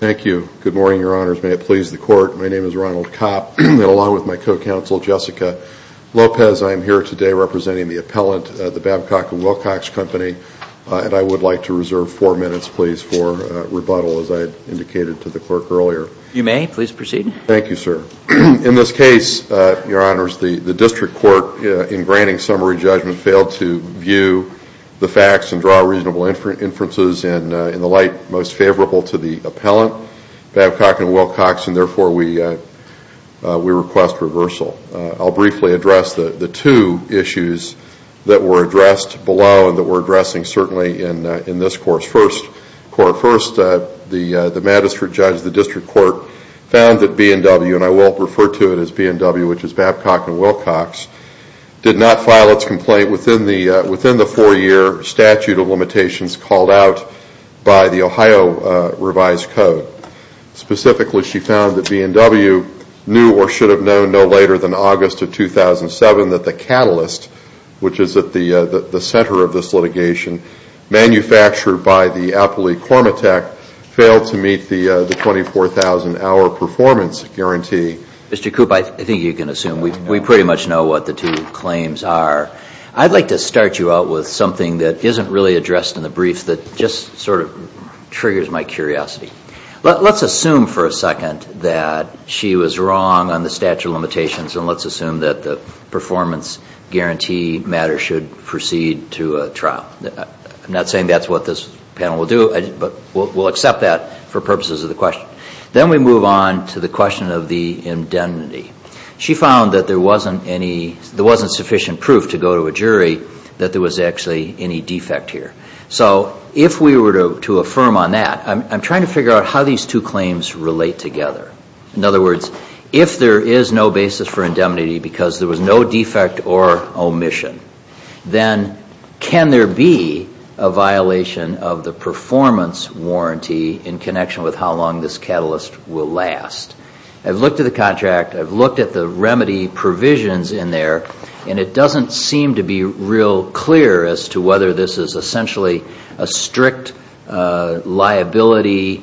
Thank you. Good morning, Your Honors. May it please the Court, my name is Ronald Kopp, along with my co-counsel Jessica Lopez. I am here today representing the appellant at Cormetech, and I would like to reserve four minutes, please, for rebuttal, as I indicated to the clerk earlier. You may, please proceed. Thank you, sir. In this case, Your Honors, the district court, in granting summary judgment, failed to view the facts and draw reasonable inferences in the light most favorable to the appellant, Babcock and Wilcox, and therefore we request reversal. I'll briefly address the two issues that were addressed below and that we're addressing certainly in this course. First, the magistrate judge of the district court found that B&W, and I will refer to it as B&W, which is Babcock and Wilcox, did not file its complaint within the four-year statute of limitations called out by the Ohio revised code. Specifically, she found that B&W knew or should have known no later than manufactured by the appellee Cormetech failed to meet the 24,000-hour performance guarantee. Mr. Koop, I think you can assume we pretty much know what the two claims are. I'd like to start you out with something that isn't really addressed in the brief that just sort of triggers my curiosity. Let's assume for a second that she was wrong on the statute of limitations, and let's assume that the performance guarantee matter should proceed to a trial. I'm not saying that's what this panel will do, but we'll accept that for purposes of the question. Then we move on to the question of the indemnity. She found that there wasn't any, there wasn't sufficient proof to go to a jury that there was actually any defect here. So if we were to affirm on that, I'm trying to figure out how these two claims relate together. In other words, if there is no basis for indemnity because there was no defect or omission, then can there be a violation of the performance warranty in connection with how long this catalyst will last? I've looked at the contract, I've looked at the remedy provisions in there, and it doesn't seem to be real clear as to whether this is essentially a strict liability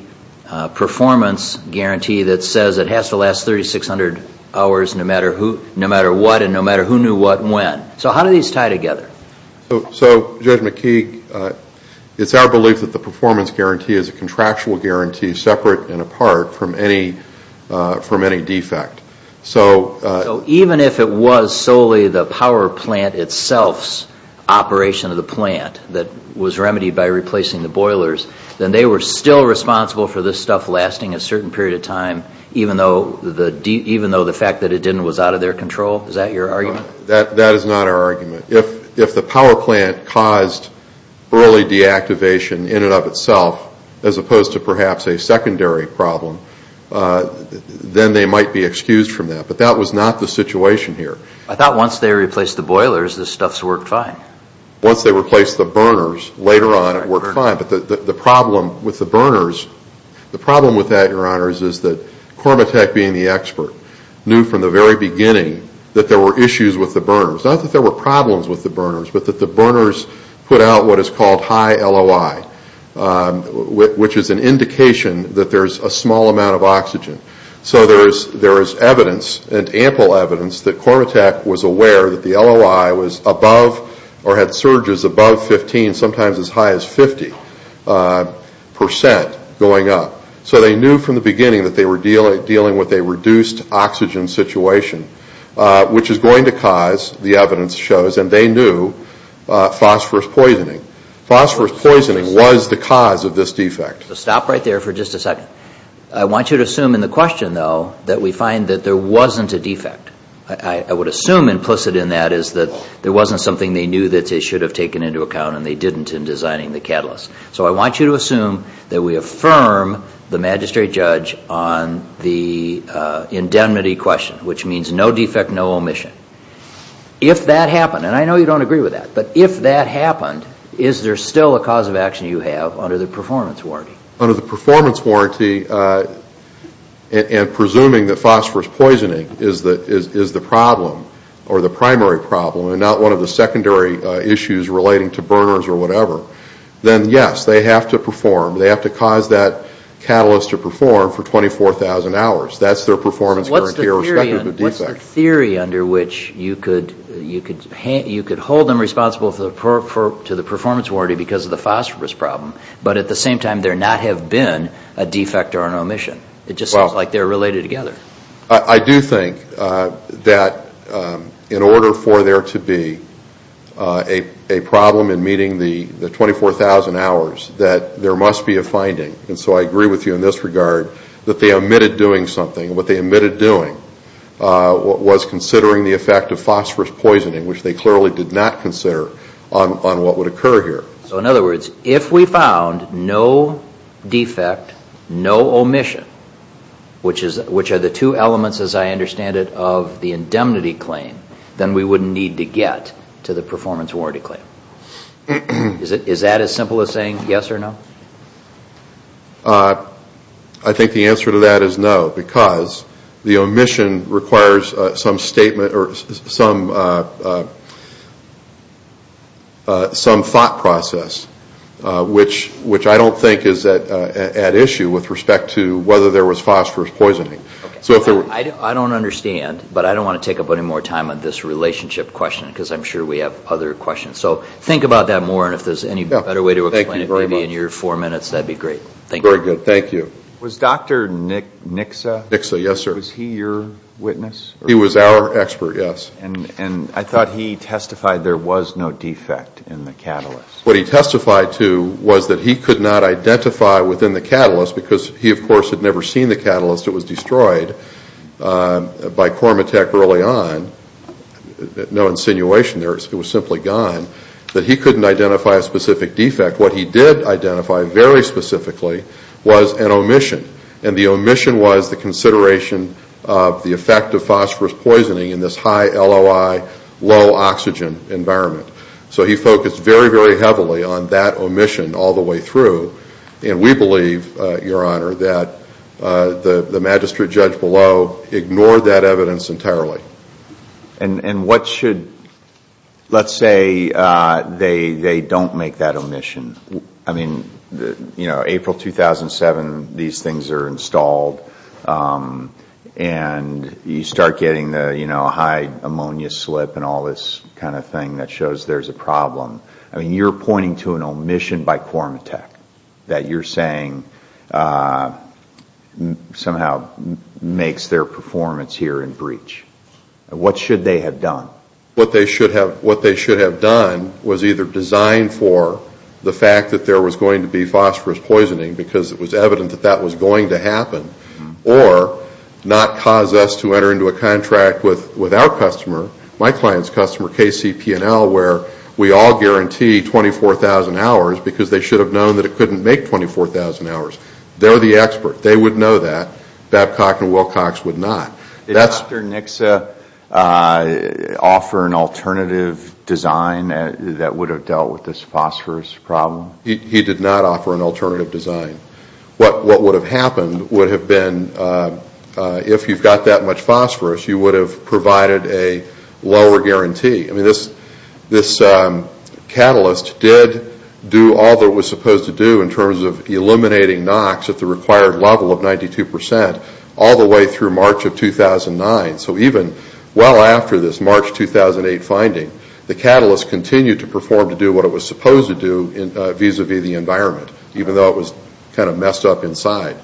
performance guarantee that says it has to be 600 hours no matter what and no matter who knew what and when. So how do these tie together? So Judge McKeague, it's our belief that the performance guarantee is a contractual guarantee separate and apart from any defect. So even if it was solely the power plant itself's operation of the plant that was remedied by replacing the boilers, then they were still responsible for this stuff lasting a certain period of time even though the fact that it didn't was out of their control? Is that your argument? That is not our argument. If the power plant caused early deactivation in and of itself as opposed to perhaps a secondary problem, then they might be excused from that. But that was not the situation here. I thought once they replaced the boilers, this stuff's worked fine. Once they replaced the burners, later on it worked fine. But the problem with the burners is that Cormatech being the expert, knew from the very beginning that there were issues with the burners. Not that there were problems with the burners, but that the burners put out what is called high LOI, which is an indication that there is a small amount of oxygen. So there is evidence and ample evidence that Cormatech was aware that the LOI was above or had surges above 15, sometimes as high as 50 percent going up. So they knew from the beginning that they were dealing with a reduced oxygen situation, which is going to cause, the evidence shows, and they knew, phosphorus poisoning. Phosphorus poisoning was the cause of this defect. Stop right there for just a second. I want you to assume in the question, though, that we find that there wasn't a defect. I would assume implicit in that is that there wasn't something they knew that they should have taken into account and they didn't in designing the catalyst. So I want you to assume that we affirm the magistrate judge on the indemnity question, which means no defect, no omission. If that happened, and I know you don't agree with that, but if that happened, is there still a cause of action you have under the performance warranty? Under the performance warranty and presuming that phosphorus poisoning is the problem or the primary problem and not one of the secondary issues relating to burners or whatever, then yes, they have to perform. They have to cause that catalyst to perform for 24,000 hours. That's their performance guarantee irrespective of the defect. So what's the theory under which you could hold them responsible for the performance warranty because of the phosphorus problem, but at the same time there not have been a defect or an omission? It just seems like they're related together. I do think that in order for there to be a problem in meeting the 24,000 hours, that there must be a finding. And so I agree with you in this regard that they omitted doing something. What they omitted doing was considering the effect of phosphorus poisoning, which they clearly did not consider on what would occur here. So in other words, if we found no defect, no omission, which are the two elements as I understand it of the indemnity claim, then we wouldn't need to get to the performance warranty claim. Is that as simple as saying yes or no? I think the answer to that is no, because the omission requires some thought process, which I don't think is at issue with respect to whether there was phosphorus poisoning. I don't understand, but I don't want to take up any more time on this relationship question because I'm sure we have other questions. So think about that more and if there's any better way to explain it maybe in your four minutes, that would be great. Thank you. Very good. Thank you. Was Dr. Nixa? Nixa, yes, sir. Was he your witness? He was our expert, yes. And I thought he testified there was no defect in the catalyst. What he testified to was that he could not identify within the catalyst because he, of course, had never seen the catalyst. It was destroyed by quorum attack early on. No insinuation there. It was simply gone. But he couldn't identify a specific defect. What he did identify very specifically was an omission, and the omission was the consideration of the effect of phosphorus poisoning in this high LOI, low oxygen environment. So he focused very, very heavily on that omission all the way through, and we believe, Your Honor, that the magistrate judge below ignored that evidence entirely. And what should, let's say they don't make that omission. I mean, April 2007, these things are installed, and you start getting the high ammonia slip and all this kind of thing that shows there's a problem. I mean, you're pointing to an omission by quorum attack that you're What they should have done was either design for the fact that there was going to be phosphorus poisoning because it was evident that that was going to happen, or not cause us to enter into a contract with our customer, my client's customer, KCP&L, where we all guarantee 24,000 hours because they should have known that it couldn't make 24,000 hours. They're the expert. They would know that. Babcock and Wilcox would not. Did Dr. Nixa offer an alternative design that would have dealt with this phosphorus problem? He did not offer an alternative design. What would have happened would have been if you've got that much phosphorus, you would have provided a lower guarantee. I mean, this catalyst did do all that it was supposed to do in terms of eliminating NOx at the required level of So even well after this March 2008 finding, the catalyst continued to perform to do what it was supposed to do vis-a-vis the environment, even though it was kind of messed up inside.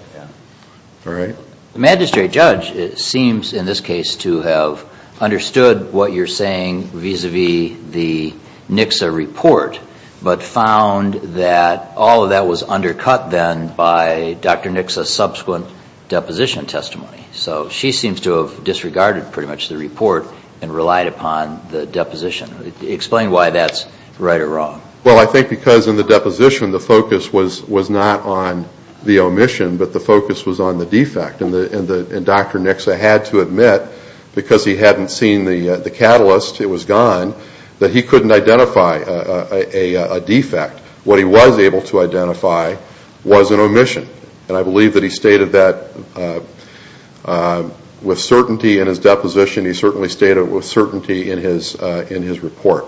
The magistrate judge seems in this case to have understood what you're saying vis-a-vis the Nixa report, but found that all of that was undercut then by Dr. Nixa's subsequent deposition testimony. So she seems to have disregarded pretty much the report and relied upon the deposition. Explain why that's right or wrong. Well, I think because in the deposition the focus was not on the omission, but the focus was on the defect. And Dr. Nixa had to admit, because he hadn't seen the catalyst, it was gone, that he couldn't identify a defect. What he was able to identify was an omission. And I believe that he with certainty in his deposition, he certainly stated with certainty in his report.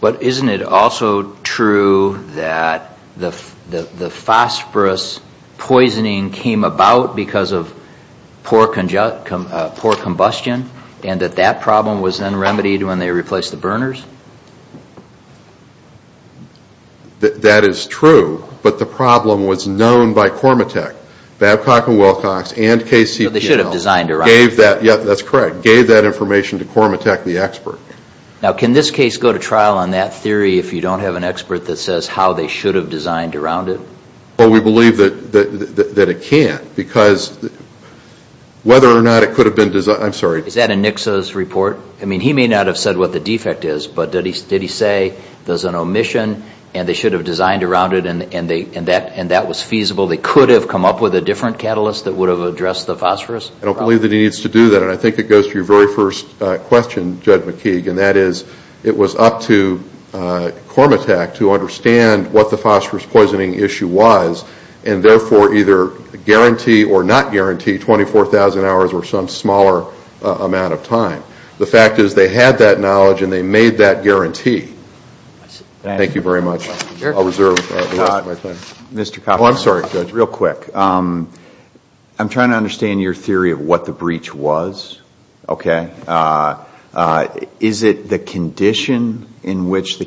But isn't it also true that the phosphorus poisoning came about because of poor combustion, and that that problem was then remedied when they replaced the burners? That is true, but the problem was known by Cormatech. Babcock and Wilcox and KCPL gave that information to Cormatech, the expert. Now, can this case go to trial on that theory if you don't have an expert that says how they should have designed around it? Well, we believe that it can't, because whether or not it could have been designed, I'm sorry. Is that in Nixa's report? I mean, he may not have said what the defect is, but did he say there's an omission, and they should have designed around it, and that was feasible? They could have come up with a different catalyst that would have addressed the phosphorus problem? I don't believe that he needs to do that. And I think it goes to your very first question, Judge McKeague, and that is, it was up to Cormatech to understand what the phosphorus poisoning issue was, and therefore, either guarantee or not guarantee 24,000 hours or some smaller amount of time. The fact is, they had that knowledge and they made that guarantee. Thank you very much. I'll reserve the rest of my time. Mr. Copper? Oh, I'm sorry, Judge. Real quick. I'm trying to understand your theory of what the breach was, okay? Is it the condition in nature,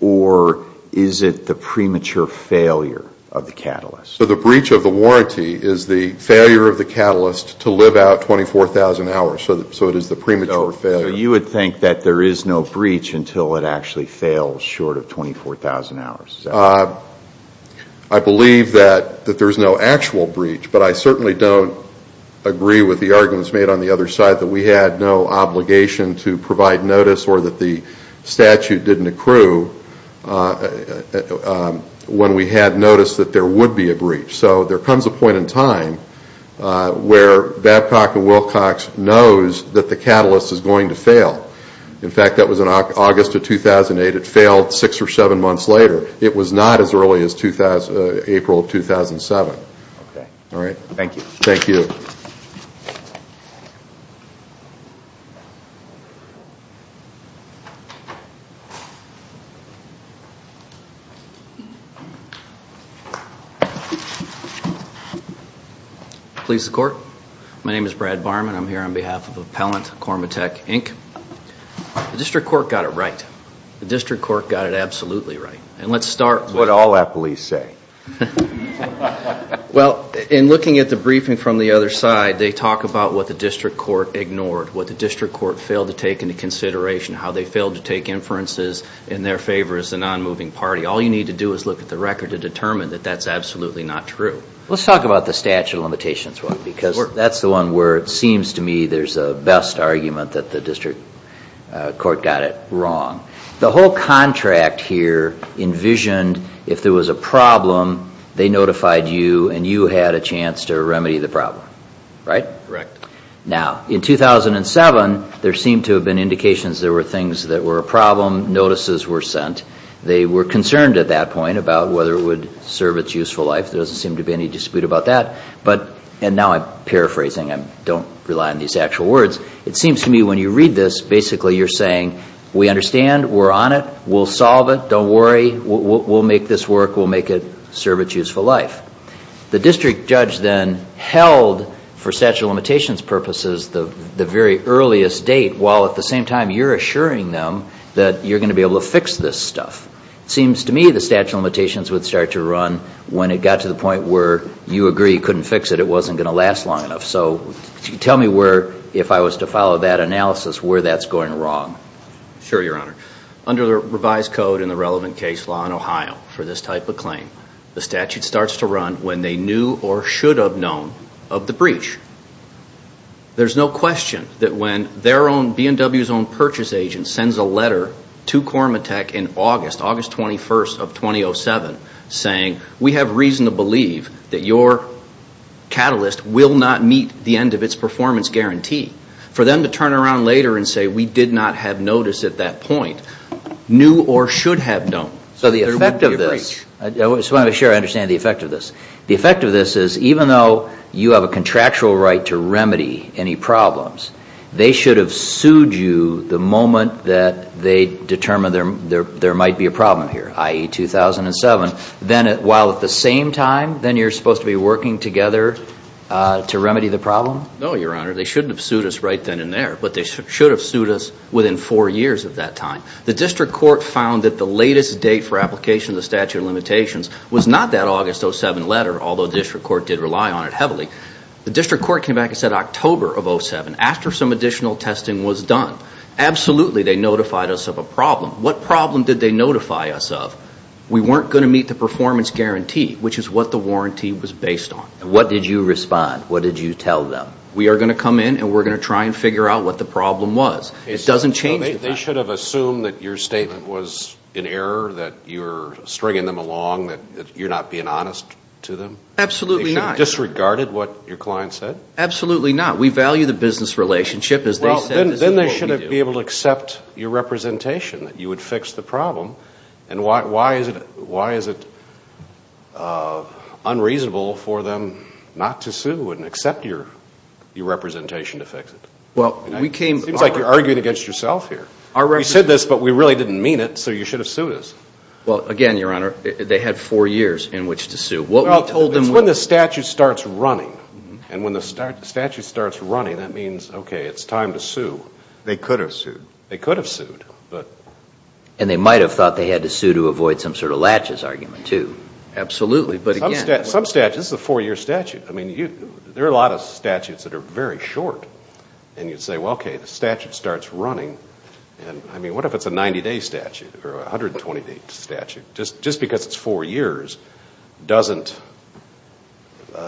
or is it the premature failure of the catalyst? So the breach of the warranty is the failure of the catalyst to live out 24,000 hours, so it is the premature failure. So you would think that there is no breach until it actually fails short of 24,000 hours? I believe that there's no actual breach, but I certainly don't agree with the arguments made on the other side that we had no obligation to provide notice or that the statute didn't accrue when we had noticed that there would be a breach. So there comes a point in time where Babcock and Wilcox knows that the catalyst is going to fail. In fact, that was in August of 2008. It failed six or seven months later. It was not as early as April of 2007. Okay. All right. Thank you. Thank you. Police and Court. My name is Brad Barman. I'm here on behalf of Appellant Cormatech, Inc. The District Court got it right. The District Court got it absolutely right. And let's start with... What all Applees say. Well, in looking at the briefing from the other side, they talk about what the District Court ignored, what the District Court failed to take into consideration, how they failed to take inferences in their favor as a non-moving party. All you need to do is look at the record to determine that that's absolutely not true. Let's talk about the statute of limitations, because that's the one where it seems to me there's a best argument that the District Court got it wrong. The whole contract here envisioned if there was a problem, they notified you and you had a chance to remedy the problem. Right? Correct. Now, in 2007, there seemed to have been indications there were things that were a problem. Notices were sent. They were concerned at that point about whether it would serve its useful life. There doesn't seem to be any dispute about that. But... And now I'm paraphrasing. I don't rely on these actual words. It seems to me when you read this, basically you're saying, we understand. We're on it. We'll solve it. Don't worry. We'll make this work. We'll make it serve its useful life. The district judge then held, for statute of limitations purposes, the very earliest date, while at the same time you're assuring them that you're going to be able to fix this stuff. It seems to me the statute of limitations would start to run when it got to the point where you agree you couldn't fix it. It wasn't going to last long enough. So tell me where, if I was to follow that analysis, where that's going wrong. Sure, Your Honor. Under the revised code in the relevant case law in Ohio for this type of claim, the statute starts to run when they knew or should have known of the breach. There's no question that when their own, B&W's own, purchase agent sends a letter to Quorum of Tech in August, August 21st of 2007, saying we have reason to believe that your catalyst will not meet the end of its performance guarantee. For them to turn around later and say we did not have notice at that point, knew or should have known. So the effect of this, I just want to make sure I understand the effect of this. The effect of this is even though you have a contractual right to remedy any problems, they should have sued you the moment that they determined there might be a problem here, i.e., 2007. Then while at the same time, then you're supposed to be working together to remedy the problem? No, Your Honor. They shouldn't have sued us right then and there, but they should have sued us within four years of that time. The district court found that the latest date for application of the statute of limitations was not that August 07 letter, although the district court did rely on it heavily. The district court came back and said October of 07, after some additional testing was done. Absolutely, they notified us of a problem. What problem did they notify us of? We weren't going to meet the performance guarantee, which is what the warranty was based on. What did you respond? What did you tell them? We are going to come in and we're going to try and figure out what the problem was. It doesn't change the fact. They should have assumed that your statement was in error, that you're stringing them along, that you're not being honest to them? Absolutely not. They should have disregarded what your client said? Absolutely not. We value the business relationship, as they said. Then they should have been able to accept your representation, that you would fix the problem, and why is it unreasonable for them not to sue and accept your representation to fix it? It seems like you're arguing against yourself here. You said this, but we really didn't mean it, so you should have sued us. Again, Your Honor, they had four years in which to sue. It's when the statute starts running. And when the statute starts running, that means, okay, it's time to sue. They could have sued. They could have sued. And they might have thought they had to sue to avoid some sort of latches argument, too. Absolutely. Some statutes, this is a four-year statute. There are a lot of statutes that are very short. And you'd say, well, okay, the statute starts running. I mean, what if it's a 90-day statute or a 120-day statute? Just because it's four years doesn't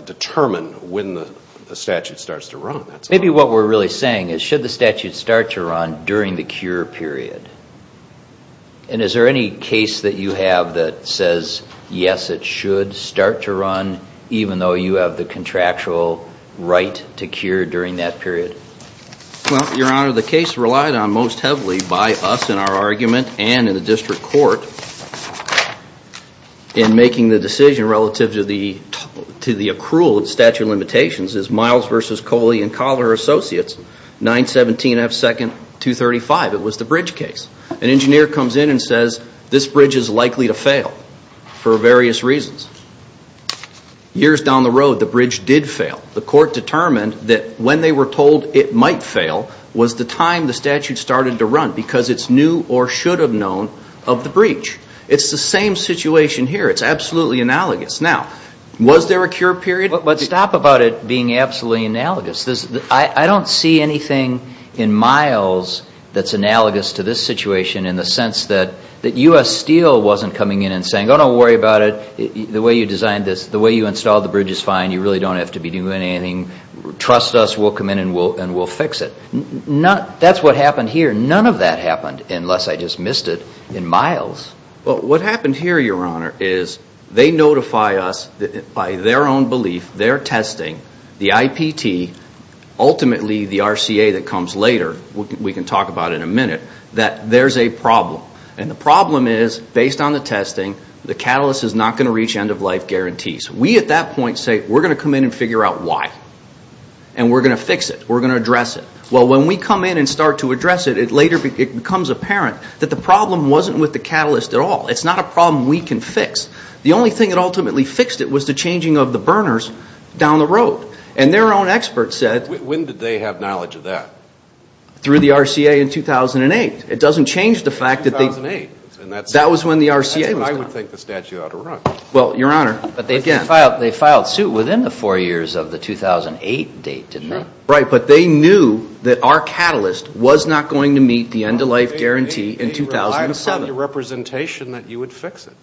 determine when the statute starts to run. Maybe what we're really saying is, should the statute start to run during the cure period? And is there any case that you have that says, yes, it should start to run, even though you have the contractual right to cure during that period? Well, Your Honor, the case relied on most heavily by us in our argument and in the district court in making the decision relative to the accrual statute limitations is Miles v. Coley and Collier Associates, 917 F. 2nd, 235. It was the bridge case. An engineer comes in and says, this bridge is likely to fail for various reasons. Years down the road, the bridge did fail. The court determined that when they were told it might fail was the time the statute started to run because it's new or should have known of the breach. It's the same situation here. It's absolutely analogous. Now, was there a cure period? Stop about it being absolutely analogous. I don't see anything in Miles that's analogous to this situation in the sense that U.S. Steel wasn't coming in and saying, oh, don't worry about it. The way you designed this, the way you installed the bridge is fine. You really don't have to be doing anything. Trust us. We'll come in and we'll fix it. That's what happened here. None of that happened unless I just missed it in Miles. Well, what happened here, Your Honor, is they notify us by their own belief, their testing, the IPT, ultimately the RCA that comes later, we can talk about it in a minute, that there's a problem. And the problem is, based on the testing, the catalyst is not going to reach end-of-life guarantees. We at that point say, we're going to come in and figure out why. And we're going to fix it. We're going to address it. Well, when we come in and start to address it, it later becomes apparent that the problem wasn't with the catalyst at all. It's not a problem we can fix. The only thing that ultimately fixed it was the changing of the burners down the road. And their own expert said – When did they have knowledge of that? Through the RCA in 2008. It doesn't change the fact that they – 2008. That was when the RCA was done. That's what I would think the statute ought to run. Well, Your Honor – But they filed suit within the four years of the 2008 date, didn't they? Right, but they knew that our catalyst was not going to meet the end-of-life guarantee in 2007. They relied upon the representation that you would fix it.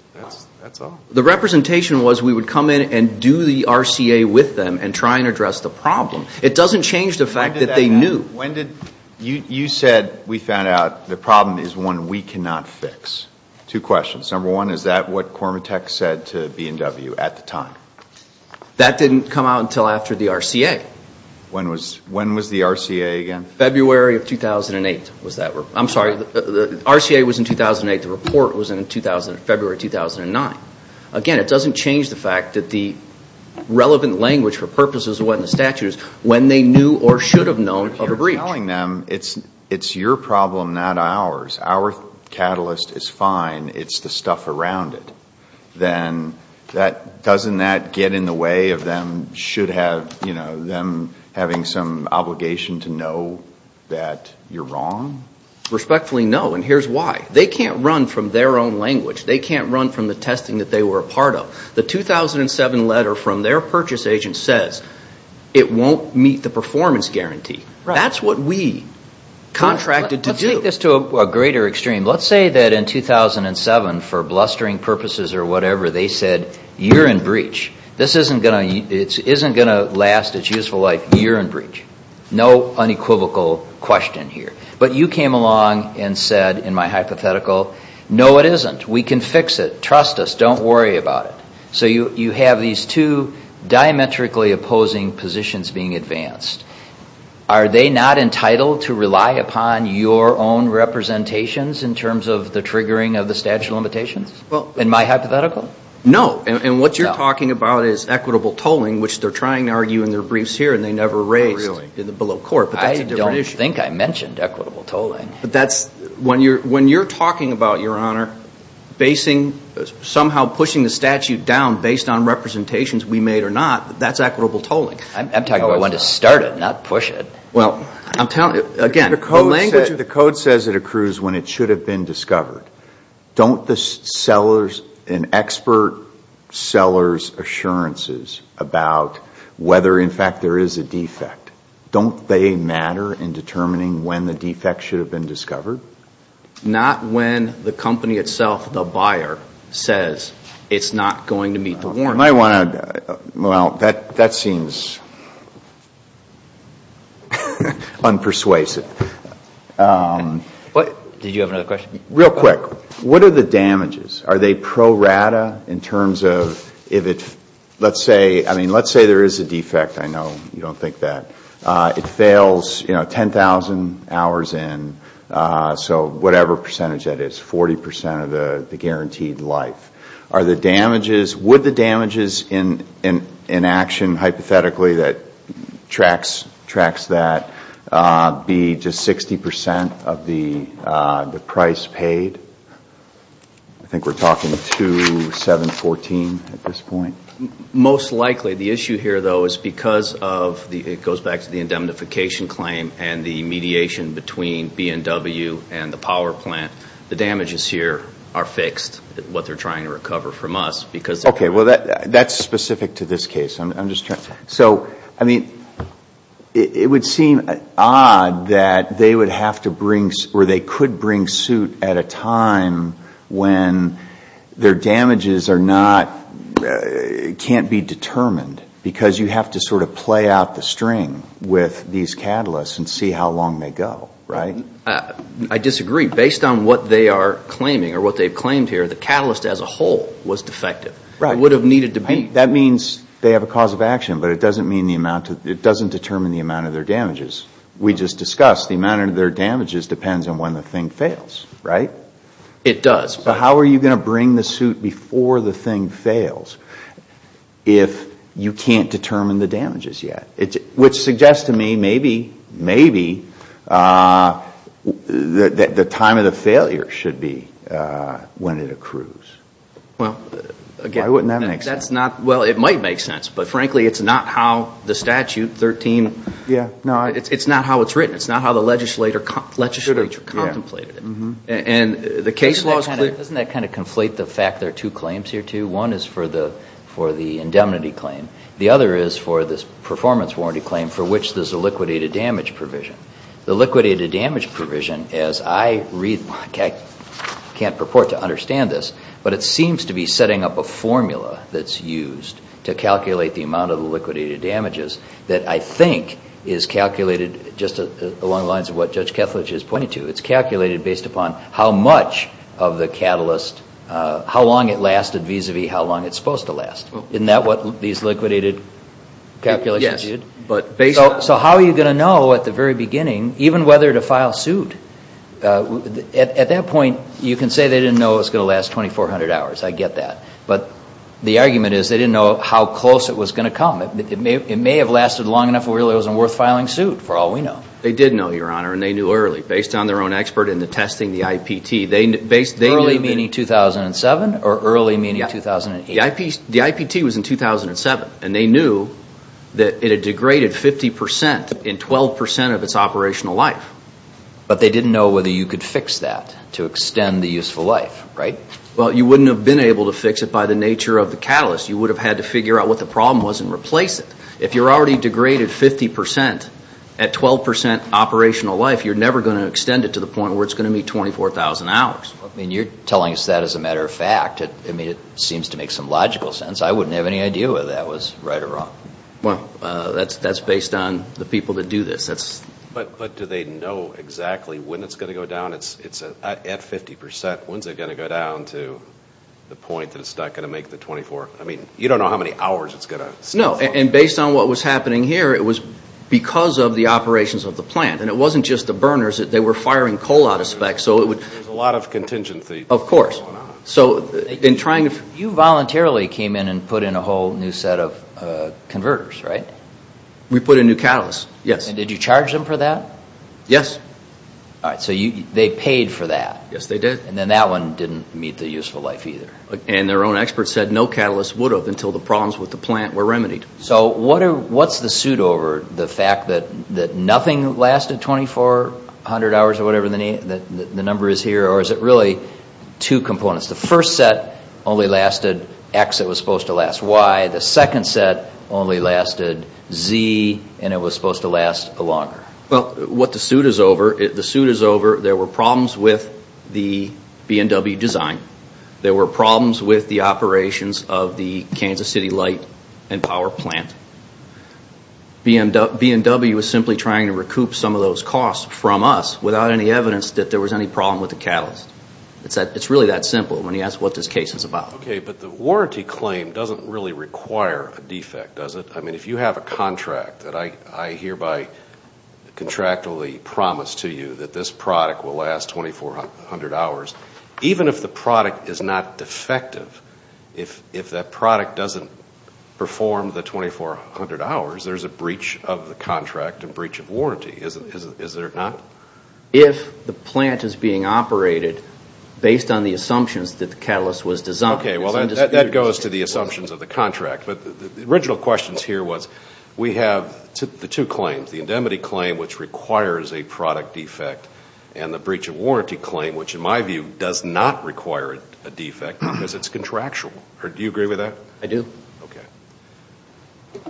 That's all. The representation was we would come in and do the RCA with them and try and address the problem. It doesn't change the fact that they knew. When did – you said we found out the problem is one we cannot fix. Two questions. Number one, is that what Cormatech said to B&W at the time? That didn't come out until after the RCA. When was the RCA again? February of 2008 was that. I'm sorry. The RCA was in 2008. The report was in February 2009. Again, it doesn't change the fact that the relevant language for purposes of what the statute is, when they knew or should have known of a breach. You're telling them it's your problem, not ours. Our catalyst is fine. It's the stuff around it. Then doesn't that get in the way of them having some obligation to know that you're wrong? Respectfully, no, and here's why. They can't run from their own language. They can't run from the testing that they were a part of. The 2007 letter from their purchase agent says it won't meet the performance guarantee. That's what we contracted to do. Let's take this to a greater extreme. Let's say that in 2007, for blustering purposes or whatever, they said you're in breach. This isn't going to last its useful life. You're in breach. No unequivocal question here. But you came along and said, in my hypothetical, no, it isn't. We can fix it. Trust us. Don't worry about it. So you have these two diametrically opposing positions being advanced. Are they not entitled to rely upon your own representations in terms of the triggering of the statute of limitations, in my hypothetical? No, and what you're talking about is equitable tolling, which they're trying to argue in their briefs here, and they never raised below court. I don't think I mentioned equitable tolling. When you're talking about, Your Honor, somehow pushing the statute down based on representations we made or not, that's equitable tolling. I'm talking about when to start it, not push it. Well, again, the code says it accrues when it should have been discovered. Don't the sellers and expert sellers' assurances about whether, in fact, there is a defect, don't they matter in determining when the defect should have been discovered? Not when the company itself, the buyer, says it's not going to meet the warrant. You might want to, well, that seems unpersuasive. Did you have another question? Real quick, what are the damages? Are they pro rata in terms of if it, let's say, I mean, let's say there is a defect. I know you don't think that. It fails, you know, 10,000 hours in, so whatever percentage that is, 40 percent of the guaranteed life. Are the damages, would the damages in action, hypothetically, that tracks that be just 60 percent of the price paid? I think we're talking to 714 at this point. Most likely, the issue here, though, is because of, it goes back to the indemnification claim and the mediation between B&W and the power plant. The damages here are fixed, what they're trying to recover from us. Okay, well, that's specific to this case. So, I mean, it would seem odd that they would have to bring, or they could bring suit at a time when their damages are not, can't be determined, because you have to sort of play out the string with these catalysts and see how long they go, right? I disagree. Based on what they are claiming or what they've claimed here, the catalyst as a whole was defective. Right. It would have needed to be. That means they have a cause of action, but it doesn't mean the amount, it doesn't determine the amount of their damages. We just discussed the amount of their damages depends on when the thing fails, right? It does. But how are you going to bring the suit before the thing fails if you can't determine the damages yet? Which suggests to me maybe the time of the failure should be when it accrues. Well, again, that's not, well, it might make sense, but frankly, it's not how the statute 13, it's not how it's written. It's not how the legislature contemplated it. And the case law is clear. Doesn't that kind of conflate the fact there are two claims here, too? One is for the indemnity claim. The other is for this performance warranty claim for which there's a liquidated damage provision. The liquidated damage provision, as I read, I can't purport to understand this, but it seems to be setting up a formula that's used to calculate the amount of the liquidated damages that I think is calculated just along the lines of what Judge Kethledge has pointed to. It's calculated based upon how much of the catalyst, how long it lasted vis-a-vis how long it's supposed to last. Isn't that what these liquidated calculations did? Yes. So how are you going to know at the very beginning, even whether to file suit? At that point, you can say they didn't know it was going to last 2,400 hours. I get that. But the argument is they didn't know how close it was going to come. It may have lasted long enough where it really wasn't worth filing suit, for all we know. They did know, Your Honor, and they knew early. Based on their own expert in the testing, the IPT, they knew. Early meaning 2007 or early meaning 2008? The IPT was in 2007, and they knew that it had degraded 50% in 12% of its operational life. But they didn't know whether you could fix that to extend the useful life, right? Well, you wouldn't have been able to fix it by the nature of the catalyst. You would have had to figure out what the problem was and replace it. If you're already degraded 50% at 12% operational life, you're never going to extend it to the point where it's going to be 24,000 hours. You're telling us that as a matter of fact. It seems to make some logical sense. I wouldn't have any idea whether that was right or wrong. Well, that's based on the people that do this. But do they know exactly when it's going to go down? At 50%, when's it going to go down to the point that it's not going to make the 24? You don't know how many hours it's going to stay for. No, and based on what was happening here, it was because of the operations of the plant. It wasn't just the burners. They were firing coal out of spec. There's a lot of contingency going on. Of course. You voluntarily came in and put in a whole new set of converters, right? We put in new catalysts, yes. Did you charge them for that? Yes. All right, so they paid for that. Yes, they did. Then that one didn't meet the useful life either. Their own experts said no catalyst would have until the problems with the plant were remedied. So what's the suit over? The fact that nothing lasted 2400 hours or whatever the number is here, or is it really two components? The first set only lasted X, it was supposed to last Y. The second set only lasted Z, and it was supposed to last longer. Well, what the suit is over, the suit is over, there were problems with the B&W design. There were problems with the operations of the Kansas City light and power plant. B&W was simply trying to recoup some of those costs from us without any evidence that there was any problem with the catalyst. It's really that simple when you ask what this case is about. Okay, but the warranty claim doesn't really require a defect, does it? I mean, if you have a contract that I hereby contractually promise to you that this product will last 2400 hours, even if the product is not defective, if that product doesn't perform the 2400 hours, there's a breach of the contract, a breach of warranty, is there not? If the plant is being operated based on the assumptions that the catalyst was designed. Okay, well, that goes to the assumptions of the contract. But the original question here was we have the two claims, the indemnity claim which requires a product defect and the breach of warranty claim which in my view does not require a defect because it's contractual. Do you agree with that? I do. Okay.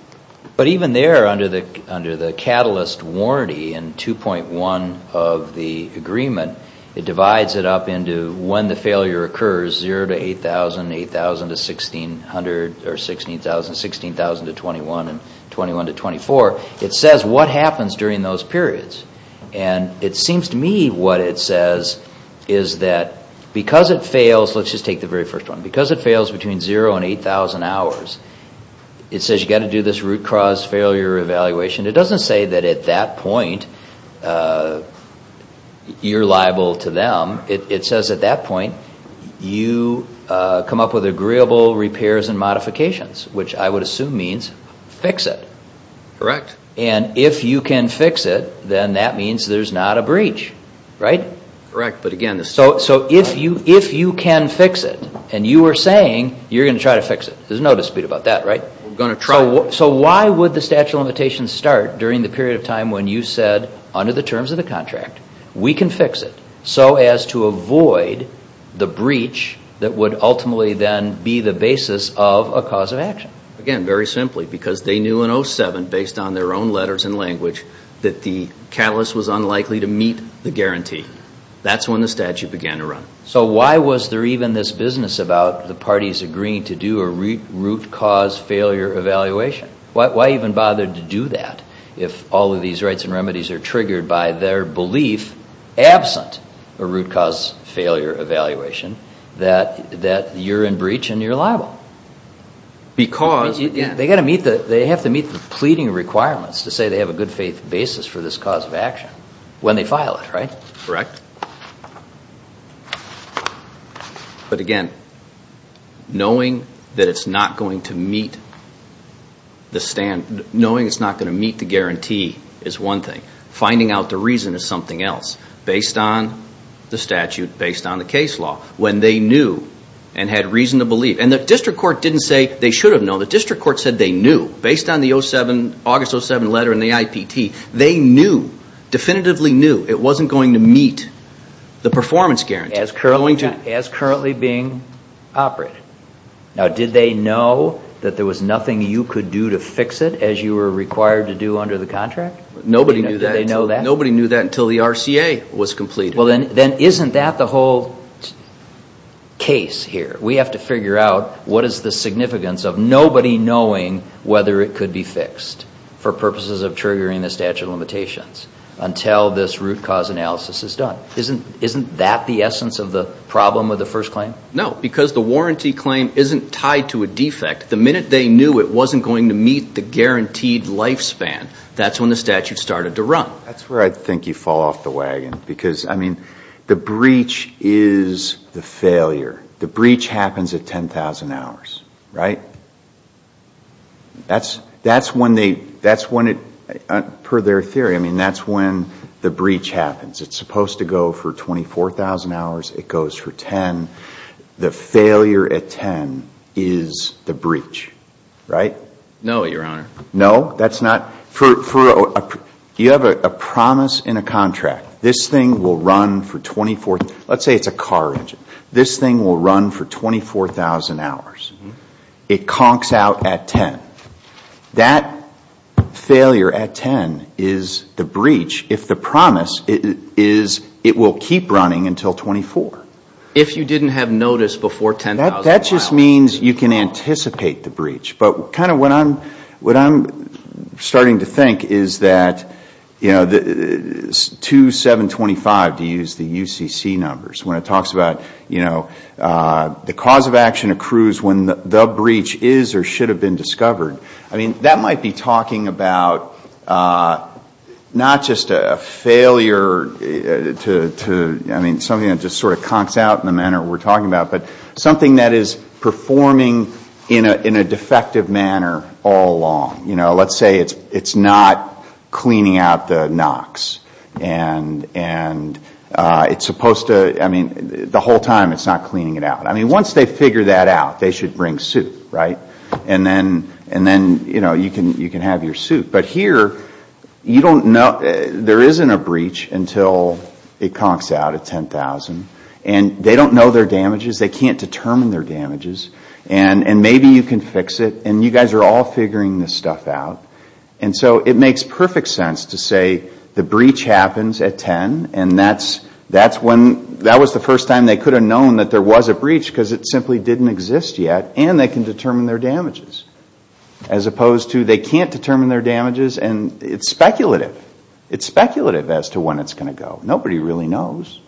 But even there under the catalyst warranty in 2.1 of the agreement, it divides it up into when the failure occurs, 0 to 8000, 8000 to 1600, or 16,000 to 21, and 21 to 24. It says what happens during those periods. And it seems to me what it says is that because it fails, let's just take the very first one, because it fails between 0 and 8000 hours, it says you've got to do this root cause failure evaluation. It doesn't say that at that point you're liable to them. It says at that point you come up with agreeable repairs and modifications, which I would assume means fix it. Correct. And if you can fix it, then that means there's not a breach, right? Correct. So if you can fix it and you are saying you're going to try to fix it, there's no dispute about that, right? We're going to try. So why would the statute of limitations start during the period of time when you said under the terms of the contract we can fix it so as to avoid the breach that would ultimately then be the basis of a cause of action? Again, very simply, because they knew in 07, based on their own letters and language, that the catalyst was unlikely to meet the guarantee. That's when the statute began to run. So why was there even this business about the parties agreeing to do a root cause failure evaluation? Why even bother to do that if all of these rights and remedies are triggered by their belief, absent a root cause failure evaluation, that you're in breach and you're liable? Because they have to meet the pleading requirements to say they have a good faith basis for this cause of action when they file it, right? Correct. But again, knowing that it's not going to meet the guarantee is one thing. Finding out the reason is something else, based on the statute, based on the case law. When they knew and had reason to believe. And the district court didn't say they should have known. The district court said they knew, based on the August 07 letter and the IPT. They knew, definitively knew it wasn't going to meet the performance guarantee. As currently being operated. Now, did they know that there was nothing you could do to fix it, as you were required to do under the contract? Nobody knew that until the RCA was completed. Then isn't that the whole case here? We have to figure out what is the significance of nobody knowing whether it could be fixed for purposes of triggering the statute of limitations until this root cause analysis is done. Isn't that the essence of the problem with the first claim? No, because the warranty claim isn't tied to a defect. The minute they knew it wasn't going to meet the guaranteed lifespan, that's when the statute started to run. That's where I think you fall off the wagon. Because, I mean, the breach is the failure. The breach happens at 10,000 hours, right? That's when they, that's when it, per their theory, I mean, that's when the breach happens. It's supposed to go for 24,000 hours. It goes for 10. The failure at 10 is the breach, right? No, Your Honor. No, that's not, for, you have a promise in a contract. This thing will run for 24, let's say it's a car engine. This thing will run for 24,000 hours. It conks out at 10. That failure at 10 is the breach if the promise is it will keep running until 24. If you didn't have notice before 10,000 hours. That just means you can anticipate the breach. But kind of what I'm starting to think is that, you know, 2725, to use the UCC numbers, when it talks about, you know, the cause of action accrues when the breach is or should have been discovered. I mean, that might be talking about not just a failure to, I mean, something that just sort of conks out in the manner we're talking about, but something that is performing in a defective manner all along. You know, let's say it's not cleaning out the knocks. And it's supposed to, I mean, the whole time it's not cleaning it out. I mean, once they figure that out, they should bring suit, right? And then, you know, you can have your suit. But here, you don't know, there isn't a breach until it conks out at 10,000. And they don't know their damages. They can't determine their damages. And maybe you can fix it. And you guys are all figuring this stuff out. And so it makes perfect sense to say the breach happens at 10. And that's when, that was the first time they could have known that there was a breach because it simply didn't exist yet. And they can determine their damages. As opposed to they can't determine their damages. And it's speculative. It's speculative as to when it's going to go. Nobody really knows.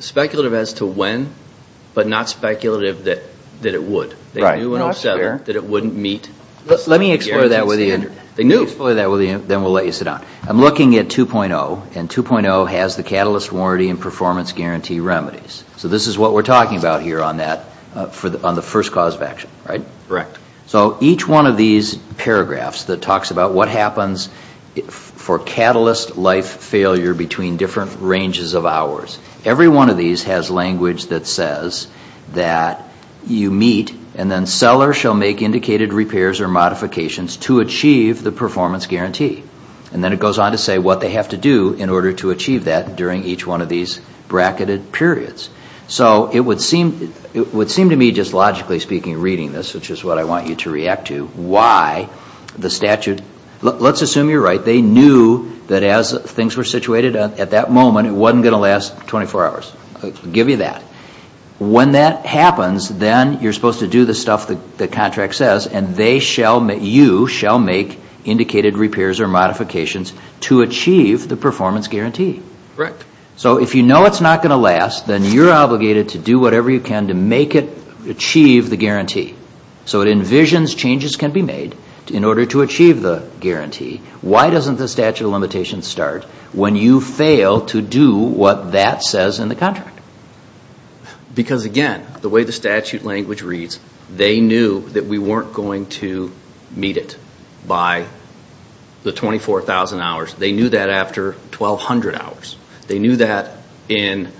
Speculative as to when, but not speculative that it would. They knew when it was settled that it wouldn't meet the guarantee standard. Let me explore that with you, then we'll let you sit down. I'm looking at 2.0. And 2.0 has the Catalyst Warranty and Performance Guarantee Remedies. So this is what we're talking about here on the first cause of action, right? Correct. So each one of these paragraphs that talks about what happens for catalyst life failure between different ranges of hours. Every one of these has language that says that you meet and then seller shall make indicated repairs or modifications to achieve the performance guarantee. And then it goes on to say what they have to do in order to achieve that during each one of these bracketed periods. So it would seem to me, just logically speaking, reading this, which is what I want you to react to, why the statute, let's assume you're right, they knew that as things were situated at that moment, it wasn't going to last 24 hours. I'll give you that. When that happens, then you're supposed to do the stuff the contract says and you shall make indicated repairs or modifications to achieve the performance guarantee. Correct. So if you know it's not going to last, then you're obligated to do whatever you can to make it achieve the guarantee. So it envisions changes can be made in order to achieve the guarantee. Why doesn't the statute of limitations start when you fail to do what that says in the contract? Because, again, the way the statute language reads, they knew that we weren't going to meet it by the 24,000 hours. They knew that after 1,200 hours. They knew that in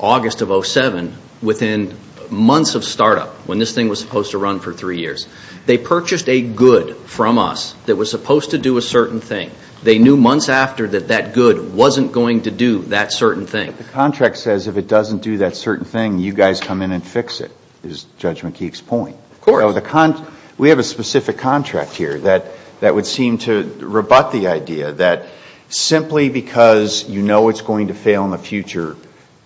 August of 2007, within months of startup, when this thing was supposed to run for three years. They purchased a good from us that was supposed to do a certain thing. They knew months after that that good wasn't going to do that certain thing. The contract says if it doesn't do that certain thing, you guys come in and fix it, is Judge McKeek's point. Of course. We have a specific contract here that would seem to rebut the idea that simply because you know it's going to fail in the future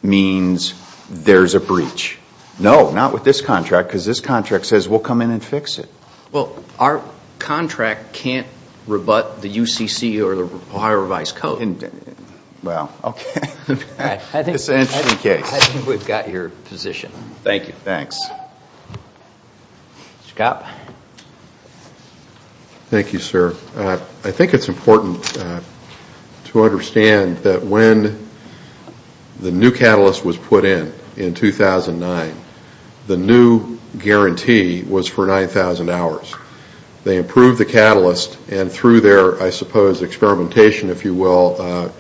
means there's a breach. No, not with this contract because this contract says we'll come in and fix it. Well, our contract can't rebut the UCC or the Ohio revised code. Well, okay. I think we've got your position. Thank you. Thanks. Mr. Kopp. Thank you, sir. I think it's important to understand that when the new catalyst was put in in 2009, the new guarantee was for 9,000 hours. They improved the catalyst and through their, I suppose, experimentation, if you will,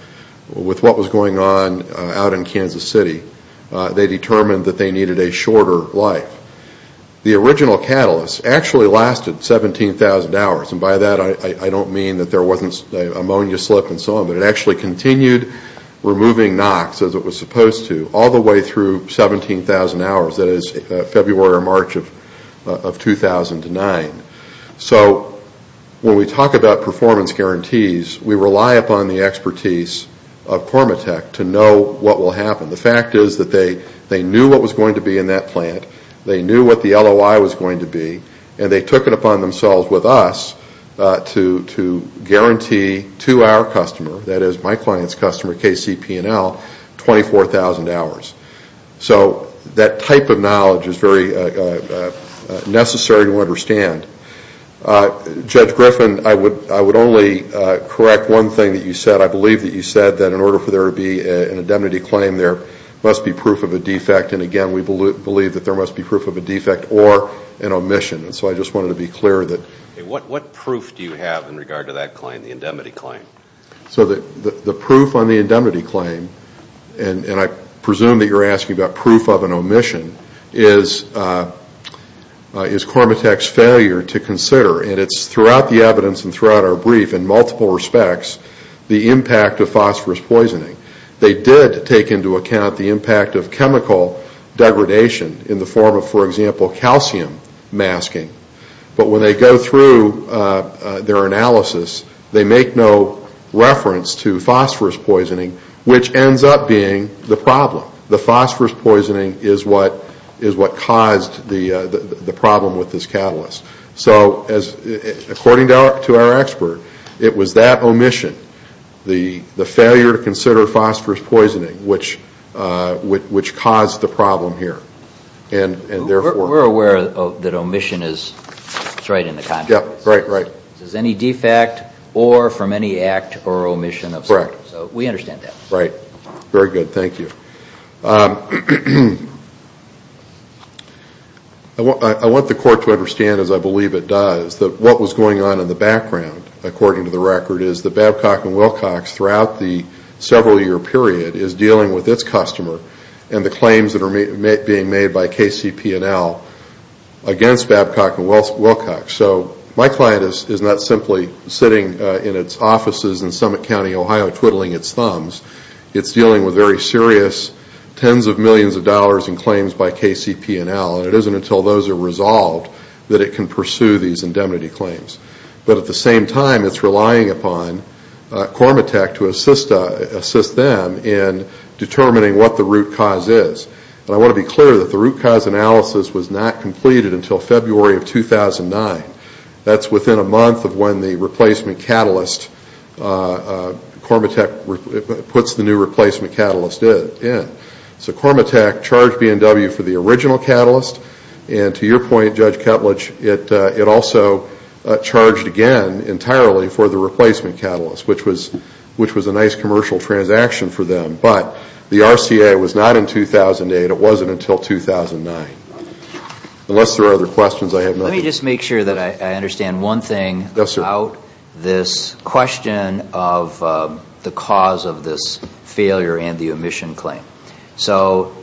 with what was going on out in Kansas City, they determined that they needed a shorter life. The original catalyst actually lasted 17,000 hours. By that, I don't mean that there wasn't an ammonia slip and so on, but it actually continued removing NOx, as it was supposed to, all the way through 17,000 hours, that is, February or March of 2009. So when we talk about performance guarantees, we rely upon the expertise of Cormatech to know what will happen. The fact is that they knew what was going to be in that plant, they knew what the LOI was going to be, and they took it upon themselves with us to guarantee to our customer, that is, my client's customer, KCP&L, 24,000 hours. So that type of knowledge is very necessary to understand. Judge Griffin, I would only correct one thing that you said. I believe that you said that in order for there to be an indemnity claim, there must be proof of a defect, and again, we believe that there must be proof of a defect or an omission. So I just wanted to be clear. What proof do you have in regard to that claim, the indemnity claim? So the proof on the indemnity claim, and I presume that you're asking about proof of an omission, is Cormatech's failure to consider, and it's throughout the evidence and throughout our brief in multiple respects, the impact of phosphorus poisoning. They did take into account the impact of chemical degradation in the form of, for example, calcium masking. But when they go through their analysis, they make no reference to phosphorus poisoning, which ends up being the problem. The phosphorus poisoning is what caused the problem with this catalyst. So according to our expert, it was that omission, the failure to consider phosphorus poisoning, which caused the problem here. We're aware that omission is right in the context. Right, right. There's any defect or from any act or omission of something. Correct. So we understand that. Right. Very good. Thank you. I want the Court to understand, as I believe it does, that what was going on in the background, according to the record, is that Babcock & Wilcox throughout the several-year period is dealing with its customer and the claims that are being made by KCP&L against Babcock & Wilcox. So my client is not simply sitting in its offices in Summit County, Ohio, twiddling its thumbs. It's dealing with very serious tens of millions of dollars in claims by KCP&L, and it isn't until those are resolved that it can pursue these indemnity claims. But at the same time, it's relying upon Cormatech to assist them in determining what the root cause is. And I want to be clear that the root cause analysis was not completed until February of 2009. That's within a month of when the replacement catalyst, Cormatech puts the new replacement catalyst in. So Cormatech charged B&W for the original catalyst, and to your point, Judge Ketledge, it also charged again entirely for the replacement catalyst, which was a nice commercial transaction for them. But the RCA was not in 2008. It wasn't until 2009, unless there are other questions I have. Let me just make sure that I understand one thing about this question of the cause of this failure and the omission claim. So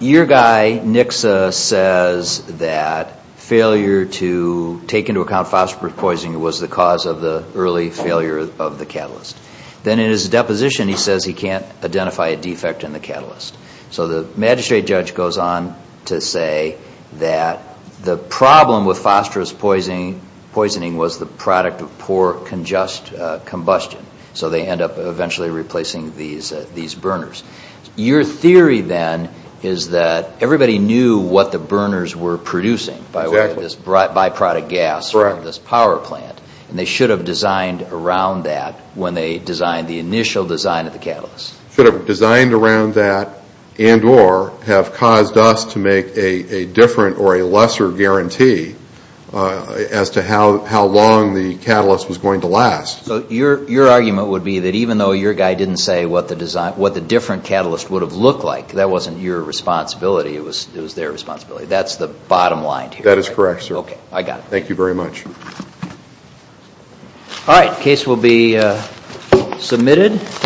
your guy, Nixa, says that failure to take into account phosphorus poisoning was the cause of the early failure of the catalyst. Then in his deposition, he says he can't identify a defect in the catalyst. So the magistrate judge goes on to say that the problem with phosphorus poisoning was the product of poor congest combustion. So they end up eventually replacing these burners. Your theory then is that everybody knew what the burners were producing by way of this by-product gas from this power plant, and they should have designed around that when they designed the initial design of the catalyst. Should have designed around that and or have caused us to make a different or a lesser guarantee as to how long the catalyst was going to last. So your argument would be that even though your guy didn't say what the different catalyst would have looked like, that wasn't your responsibility, it was their responsibility. That's the bottom line here. That is correct, sir. Okay, I got it. Thank you very much. All right, the case will be submitted.